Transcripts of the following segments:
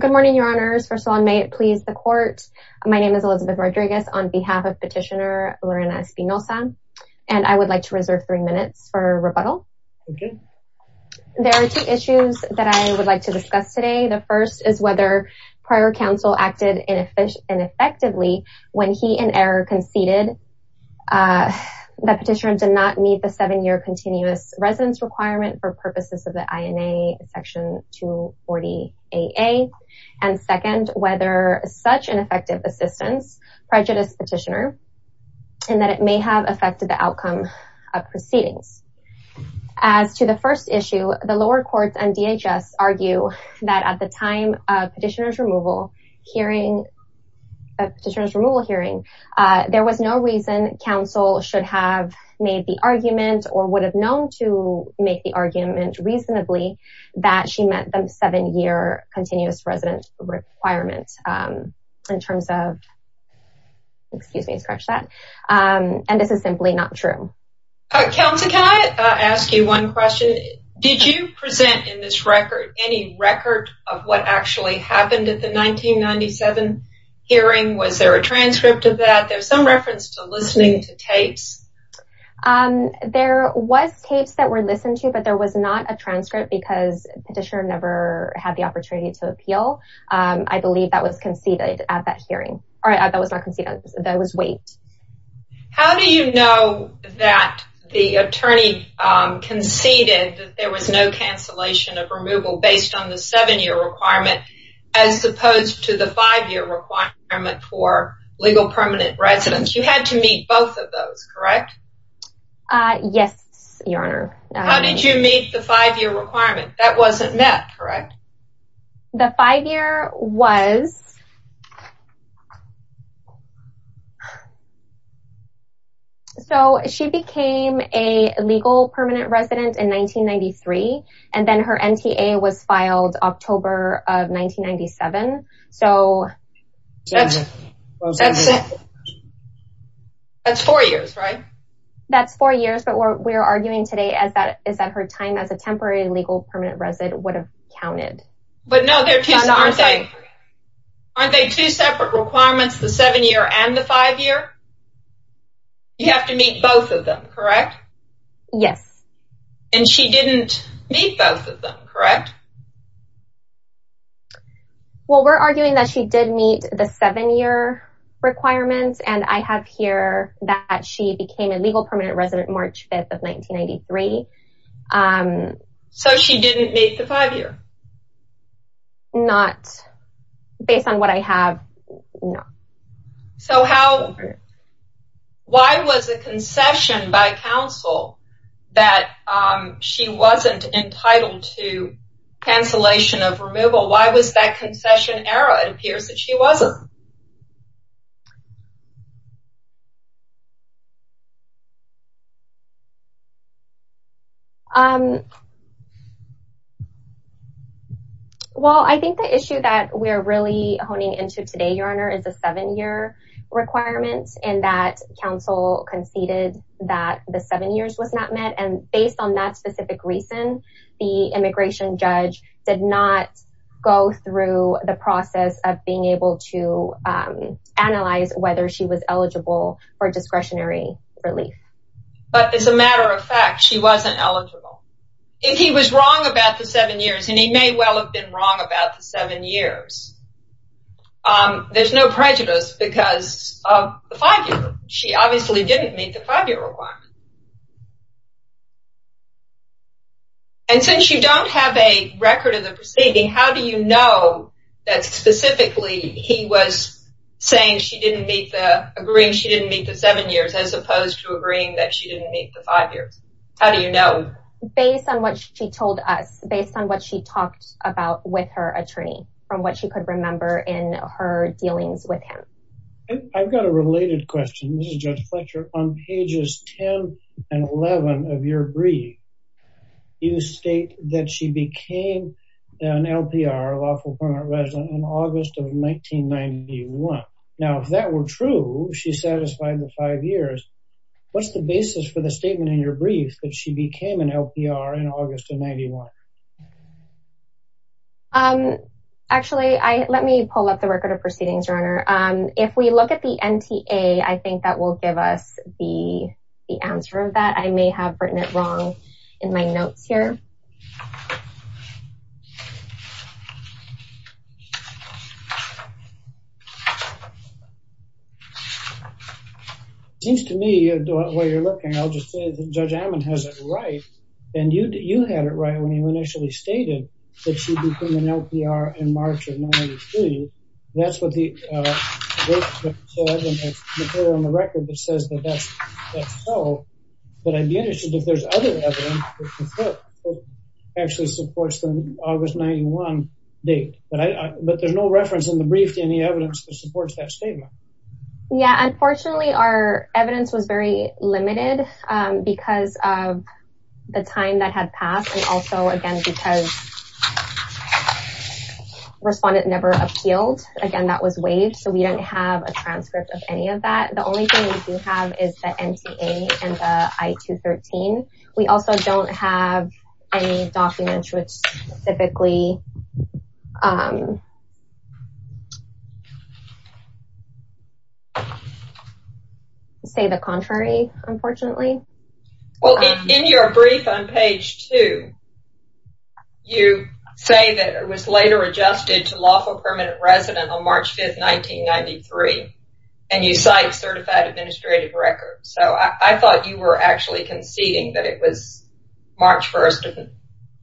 Good morning, your honors. First of all, may it please the court. My name is Elizabeth Rodriguez on behalf of petitioner Lorena Espinoza And I would like to reserve three minutes for rebuttal There are two issues that I would like to discuss today The first is whether prior counsel acted inefficient and effectively when he in error conceded The petitioner did not meet the seven-year continuous residence requirement for purposes of the INA section 1240 AA and second whether such an effective assistance prejudice petitioner and that it may have affected the outcome of proceedings as to the first issue the lower courts and DHS argue that at the time of petitioners removal hearing a petitioner's removal hearing There was no reason counsel should have made the argument or would have known to make the argument Reasonably that she met them seven-year continuous residence requirement in terms of Excuse me scratch that And this is simply not true Counselor, can I ask you one question? Did you present in this record any record of what actually happened at the 1997? Hearing was there a transcript of that? There's some reference to listening to tapes Um, there was tapes that were listened to but there was not a transcript because petitioner never had the opportunity to appeal I believe that was conceded at that hearing. All right, that was not conceded. That was wait How do you know that the attorney? Conceded there was no cancellation of removal based on the seven-year requirement as Correct Yes, your honor, how did you meet the five-year requirement that wasn't met correct the five-year was So she became a legal permanent resident in 1993 and then her NTA was filed October of 1997 so That's four years, right That's four years. But what we're arguing today as that is that her time as a temporary legal permanent resident would have counted but no they're just like Aren't they two separate requirements the seven-year and the five-year? You have to meet both of them, correct? Yes, and she didn't meet both of them, correct? Well, we're arguing that she did meet the seven-year Requirements and I have here that she became a legal permanent resident March 5th of 1993 So she didn't meet the five-year Not based on what I have no so how Why was a concession by counsel that? She wasn't entitled to Cancellation of removal. Why was that concession era? It appears that she wasn't You Um Well, I think the issue that we're really honing into today your honor is a seven-year Requirements and that council conceded that the seven years was not met and based on that specific reason the immigration judge did not go through the process of being able to Analyze whether she was eligible for discretionary relief But as a matter of fact, she wasn't eligible if he was wrong about the seven years and he may well have been wrong about the seven years There's no prejudice because of the five-year she obviously didn't meet the five-year requirement And since you don't have a record of the proceeding, how do you know that specifically he was Saying she didn't meet the agreeing. She didn't meet the seven years as opposed to agreeing that she didn't meet the five years How do you know? Based on what she told us based on what she talked about with her attorney from what she could remember in her Dealings with him. I've got a related question. This is judge Fletcher on pages 10 and 11 of your brief You state that she became an LPR lawful permanent resident in August of 1991 Now if that were true, she's satisfied with five years What's the basis for the statement in your brief that she became an LPR in August of 91? Um Actually, I let me pull up the record of proceedings runner If we look at the NTA, I think that will give us the the answer of that I may have written it wrong in my notes here It seems to me, while you're looking, I'll just say that Judge Ammon has it right and you had it right when you initially stated That she became an LPR in March of 1993 That's what the material on the record that says that that's so But I'd be interested if there's other evidence that supports the August 91 date But there's no reference in the brief to any evidence that supports that statement Yeah, unfortunately our evidence was very limited because of the time that had passed and also again because Respondent never appealed again. That was waived. So we don't have a transcript of any of that The only thing we do have is the NTA and the I-213. We also don't have any documents which specifically Say the contrary, unfortunately Well, in your brief on page two You say that it was later adjusted to lawful permanent resident on March 5th, 1993 And you cite certified administrative records. So I thought you were actually conceding that it was March 1st of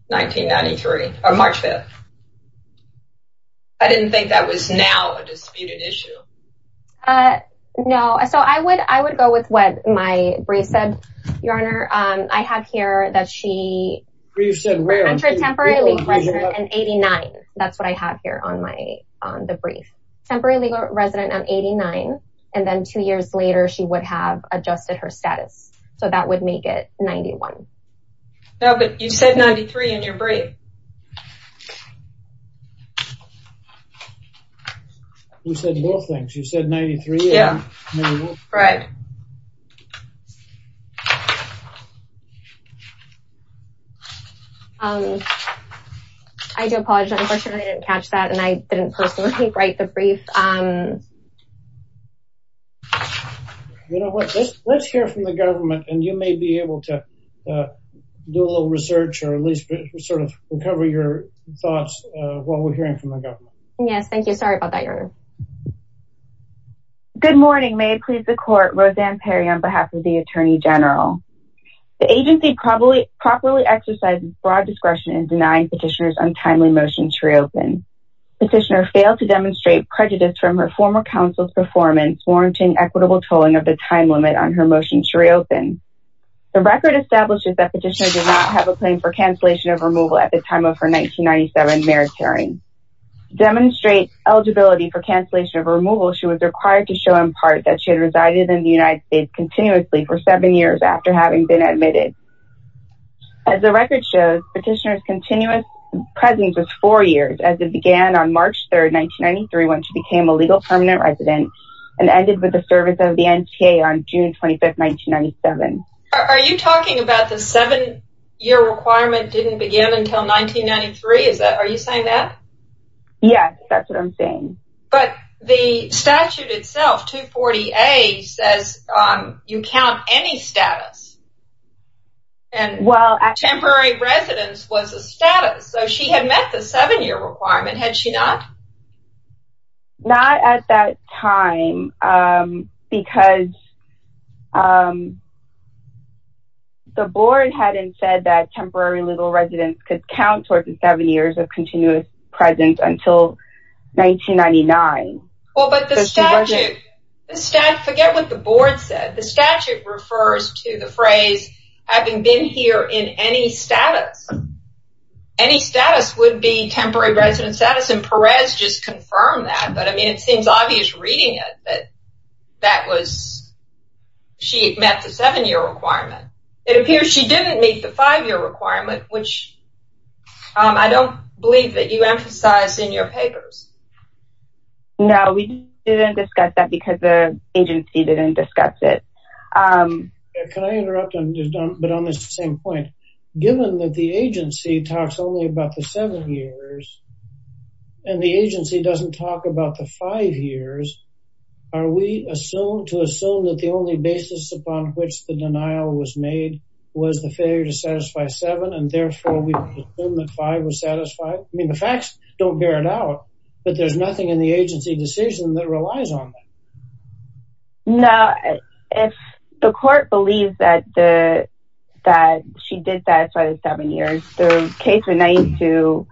1993 Or March 5th I didn't think that was now a disputed issue No, so I would I would go with what my brief said, Your Honor I have here that she Brief said temporary legal resident in 89 That's what I have here on my on the brief Temporary legal resident on 89 and then two years later she would have adjusted her status So that would make it 91 No, but you said 93 in your brief You said both things. You said 93 Yeah, right I do apologize. Unfortunately, I didn't catch that and I didn't personally write the brief You know what, let's hear from the government and you may be able to Do a little research or at least sort of recover your thoughts while we're hearing from the government Yes, thank you. Sorry about that, Your Honor Good morning. May it please the court. Roseanne Perry on behalf of the Attorney General The agency probably properly exercises broad discretion in denying petitioners untimely motion to reopen Petitioner failed to demonstrate prejudice from her former counsel's performance Warranting equitable tolling of the time limit on her motion to reopen The record establishes that petitioner did not have a claim for cancellation of removal at the time of her 1997 maritime Demonstrate eligibility for cancellation of removal She was required to show in part that she had resided in the United States continuously for seven years after having been admitted As the record shows petitioner's continuous presence was four years as it began on March 3rd 1993 when she became a legal permanent resident and ended with the service of the NTA on June 25th 1997. Are you talking about the seven year requirement didn't begin until 1993? Is that are you saying that? Yes, that's what I'm saying. But the statute itself 240 a says You count any status And well at temporary residence was a status. So she had met the seven-year requirement had she not not at that time because The board hadn't said that temporary legal residence could count towards the seven years of continuous presence until 1999 Forget what the board said the statute refers to the phrase having been here in any status Any status would be temporary residence status and Perez just confirmed that but I mean it seems obvious reading it that that was She met the seven-year requirement it appears she didn't meet the five-year requirement which I don't believe that you emphasize in your papers No, we didn't discuss that because the agency didn't discuss it Can I interrupt but on this the same point given that the agency talks only about the seven years And the agency doesn't talk about the five years Are we assume to assume that the only basis upon which the denial was made? Was the failure to satisfy seven and therefore we assume that five was satisfied I mean the facts don't bear it out, but there's nothing in the agency decision that relies on Now if the court believes that the that she did satisfy the seven years the case would need to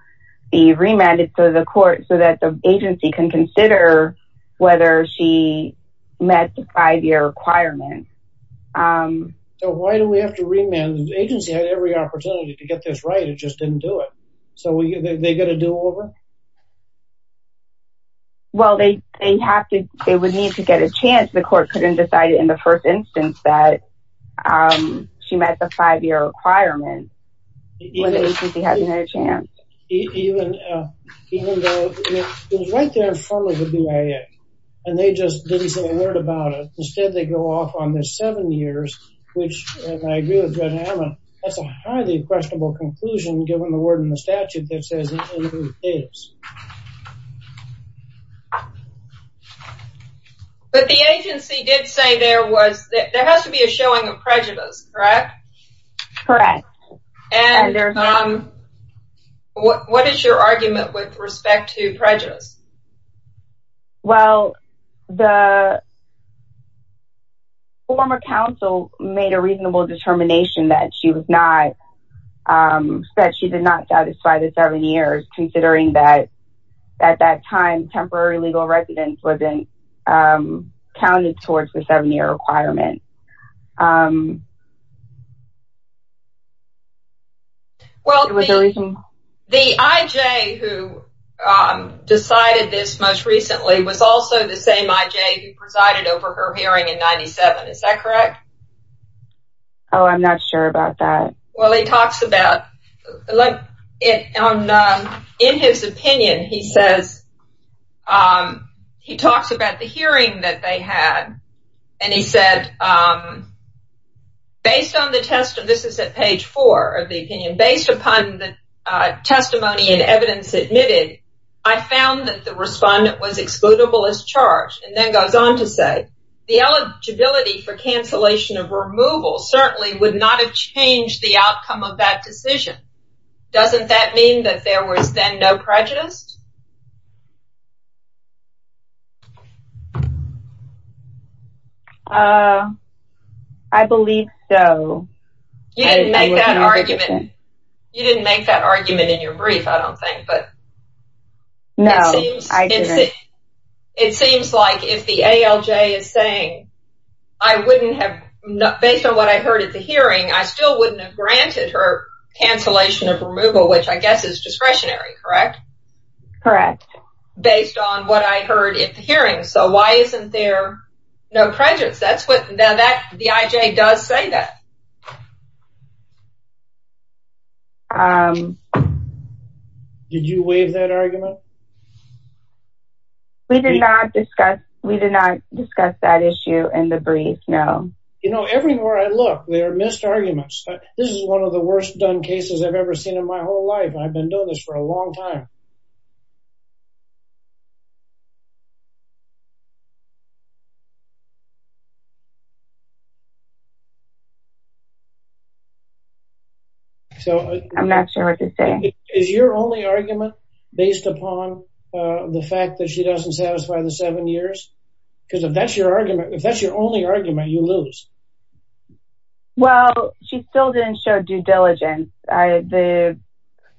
Be remanded to the court so that the agency can consider whether she met the five-year requirement So, why do we have to remand agency had every opportunity to get this right it just didn't do it so we get a do-over Well, they they have to they would need to get a chance the court couldn't decide it in the first instance that She met the five-year requirement Even if she had no chance Even though it was right there in front of the BIA And they just didn't say a word about it instead they go off on this seven years Which and I agree with Judge Hammond that's a highly questionable conclusion given the word in the statute that says it is But the agency did say there was that there has to be a showing of prejudice, correct? And What is your argument with respect to prejudice? Well the Former counsel made a reasonable determination that she was not Said she did not satisfy the seven years considering that at that time temporary legal residence wasn't counted towards the seven-year requirement Well the IJ who Decided this most recently was also the same IJ who presided over her hearing in 97. Is that correct? Oh I'm not sure about that. Well, he talks about like it In his opinion, he says He talks about the hearing that they had and he said Based on the test of this is at page four of the opinion based upon the testimony and evidence admitted I found that the respondent was excludable as charged and then goes on to say the Eligibility for cancellation of removal certainly would not have changed the outcome of that decision Doesn't that mean that there was then no prejudice? I believe so You didn't make that argument You didn't make that argument in your brief. I don't think but No, I didn't It seems like if the ALJ is saying I Wouldn't have not based on what I heard at the hearing. I still wouldn't have granted her Cancellation of removal, which I guess is discretionary, correct? Based on what I heard in the hearing. So why isn't there no prejudice? That's what now that the IJ does say that Did you wave that argument We did not discuss we did not discuss that issue in the brief No, you know everywhere. I look there are missed arguments. This is one of the worst done cases I've ever seen in my whole life. I've been doing this for a long time You So, I'm not sure what to say is your only argument based upon The fact that she doesn't satisfy the seven years because if that's your argument, if that's your only argument you lose Well, she still didn't show due diligence. I the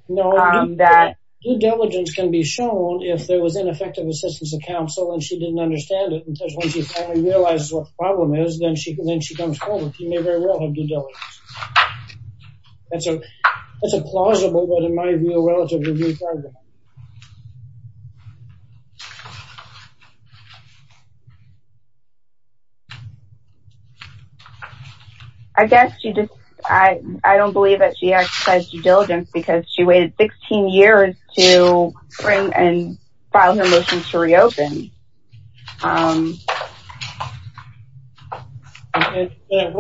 That due diligence can be shown if there was ineffective assistance of counsel and she didn't understand it Because once you finally realize what the problem is, then she can then she comes forward. You may very well have due diligence That's a that's a plausible, but in my view a relatively new problem I Guess you just I I don't believe that she exercised due diligence because she waited 16 years to Bring and file her motions to reopen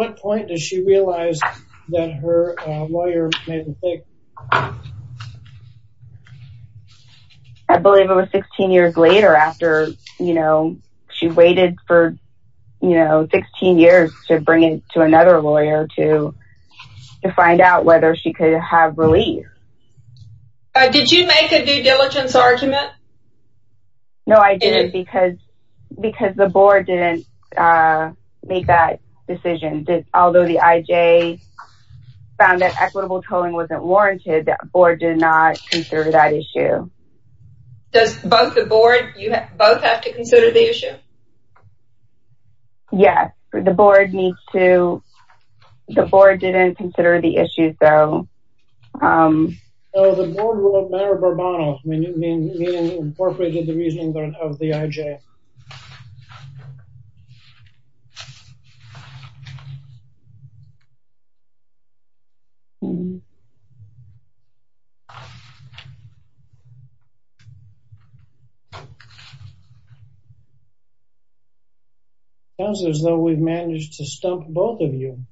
What point does she realize that her lawyer I believe it was 16 years later after you know, she waited for you know, 16 years to bring it to another lawyer to To find out whether she could have relief Did you make a due diligence argument? No, I didn't because because the board didn't Make that decision did although the IJ Found that equitable tolling wasn't warranted that board did not consider that issue Does both the board you both have to consider the issue? Yes, the board needs to the board didn't consider the issue so Corporate of the reason of the IJ As As though we've managed to stump both of you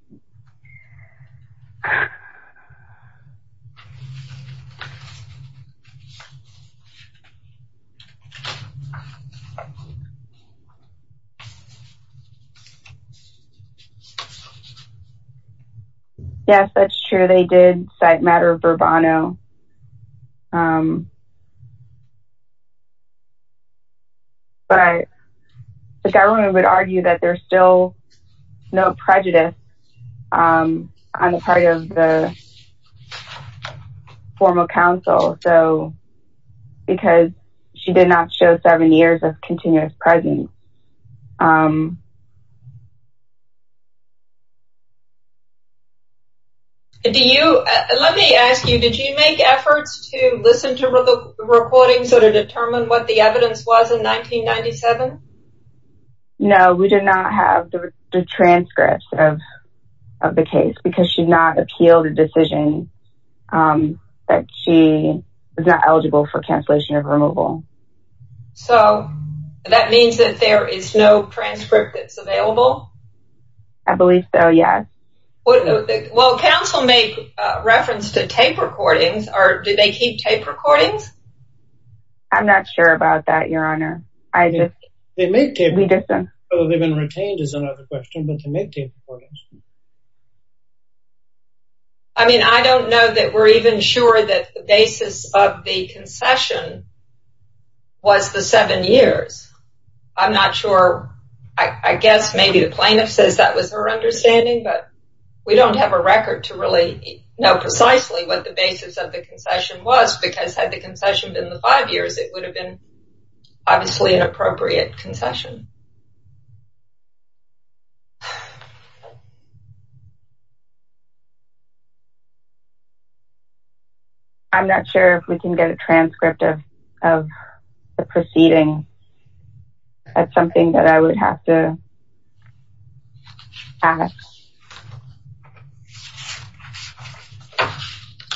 Yes, that's true they did site matter of Burbano I The government would argue that there's still no prejudice I'm a part of the Formal counsel so because she did not show seven years of continuous presence Do you let me ask you did you make efforts to listen to the recording so to determine what the evidence was in 1997 No, we did not have the transcripts of of the case because she's not appealed a decision That she was not eligible for cancellation of removal I Believe so. Yes Well counsel make reference to tape recordings or did they keep tape recordings? I'm not sure about that. Your honor. I just they make it we get them. Oh, they've been retained is another question But to make tape recordings, I Mean I don't know that we're even sure that the basis of the concession Was the seven years I'm not sure. I guess maybe the plaintiff says that was her understanding But we don't have a record to really know precisely what the basis of the concession was because had the concession been the five years It would have been obviously an appropriate concession You I'm not sure if we can get a transcript of the proceeding. That's something that I would have to There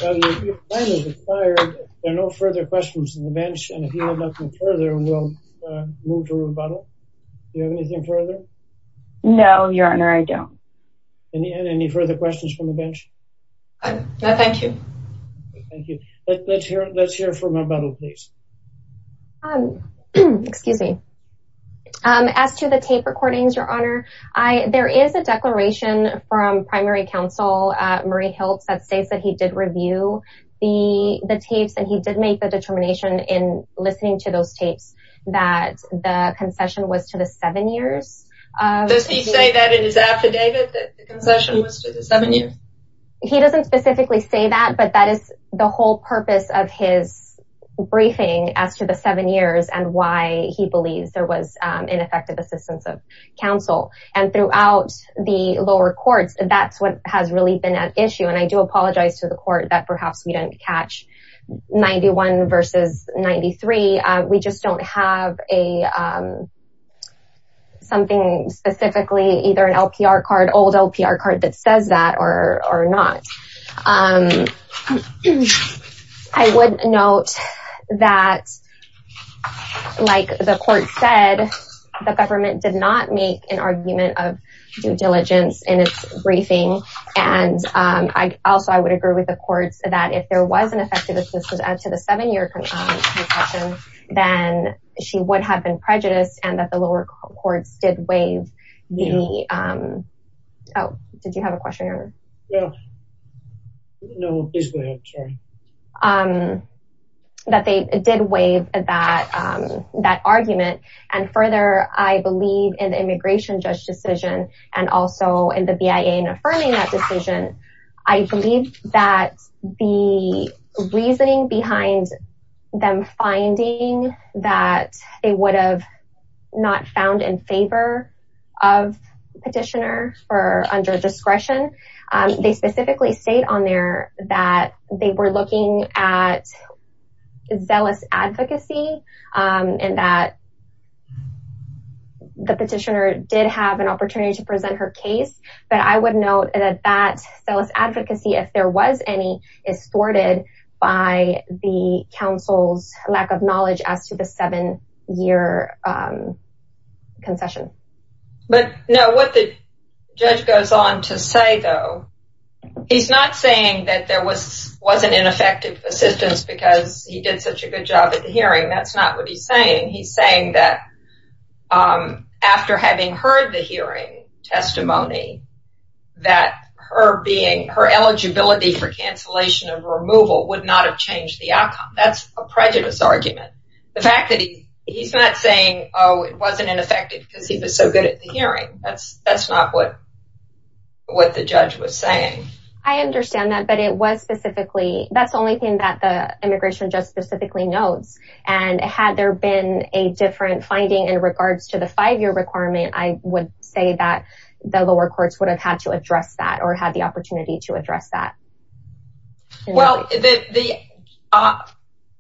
are no further questions in the bench and if you have nothing further we'll move to rebuttal Anything further? No, your honor. I don't and he had any further questions from the bench. I Thank you Let's hear for my bottle, please Excuse me As to the tape recordings your honor. I there is a declaration from primary counsel Murray helps that states that he did review the the tapes and he did make the determination in listening to those tapes that Concession was to the seven years Does he say that in his affidavit that the concession was to the seven years? He doesn't specifically say that but that is the whole purpose of his Briefing as to the seven years and why he believes there was ineffective assistance of counsel and throughout the lower courts That's what has really been an issue and I do apologize to the court that perhaps we didn't catch 91 versus 93 we just don't have a something Specifically either an LPR card old LPR card that says that or or not I Would note that Like the court said the government did not make an argument of due diligence and it's briefing and I also I would agree with the courts that if there was an effective assistance add to the seven-year Concession then she would have been prejudiced and that the lower courts did waive the Did you have a question That they did waive that That argument and further I believe in the immigration judge decision and also in the BIA and affirming that decision I believe that the Reasoning behind them finding that it would have not found in favor of Petitioner for under discretion. They specifically state on there that they were looking at Zealous advocacy and that The petitioner did have an opportunity to present her case But I would note that that zealous advocacy if there was any is thwarted by The council's lack of knowledge as to the seven-year Concession but no what the judge goes on to say though He's not saying that there was wasn't an effective assistance because he did such a good job at the hearing That's not what he's saying. He's saying that After having heard the hearing Testimony That her being her eligibility for cancellation of removal would not have changed the outcome That's a prejudice argument the fact that he he's not saying. Oh, it wasn't ineffective because he was so good at the hearing That's that's not what? What the judge was saying? I understand that but it was specifically that's the only thing that the immigration just specifically notes and Had there been a different finding in regards to the five-year requirement? I would say that the lower courts would have had to address that or had the opportunity to address that well, the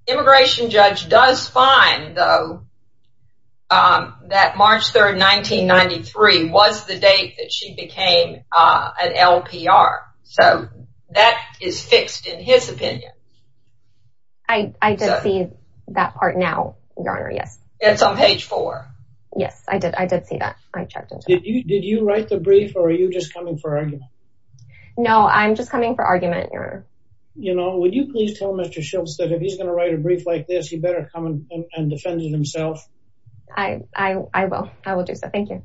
Immigration judge does find though That March 3rd 1993 was the date that she became an LPR. So that is fixed in his opinion. I Did you write the brief or are you just coming for argument? No, I'm just coming for argument your you know, would you please tell mr. Schultz that if he's gonna write a brief like this He better come and defended himself. I Will I will do so. Thank you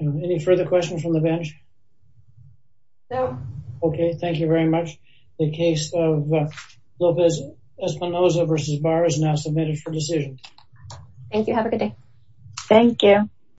Any further questions from the bench No, okay. Thank you very much the case of Lopez Espinosa versus bar is now submitted for decision Thank you, have a good day. Thank you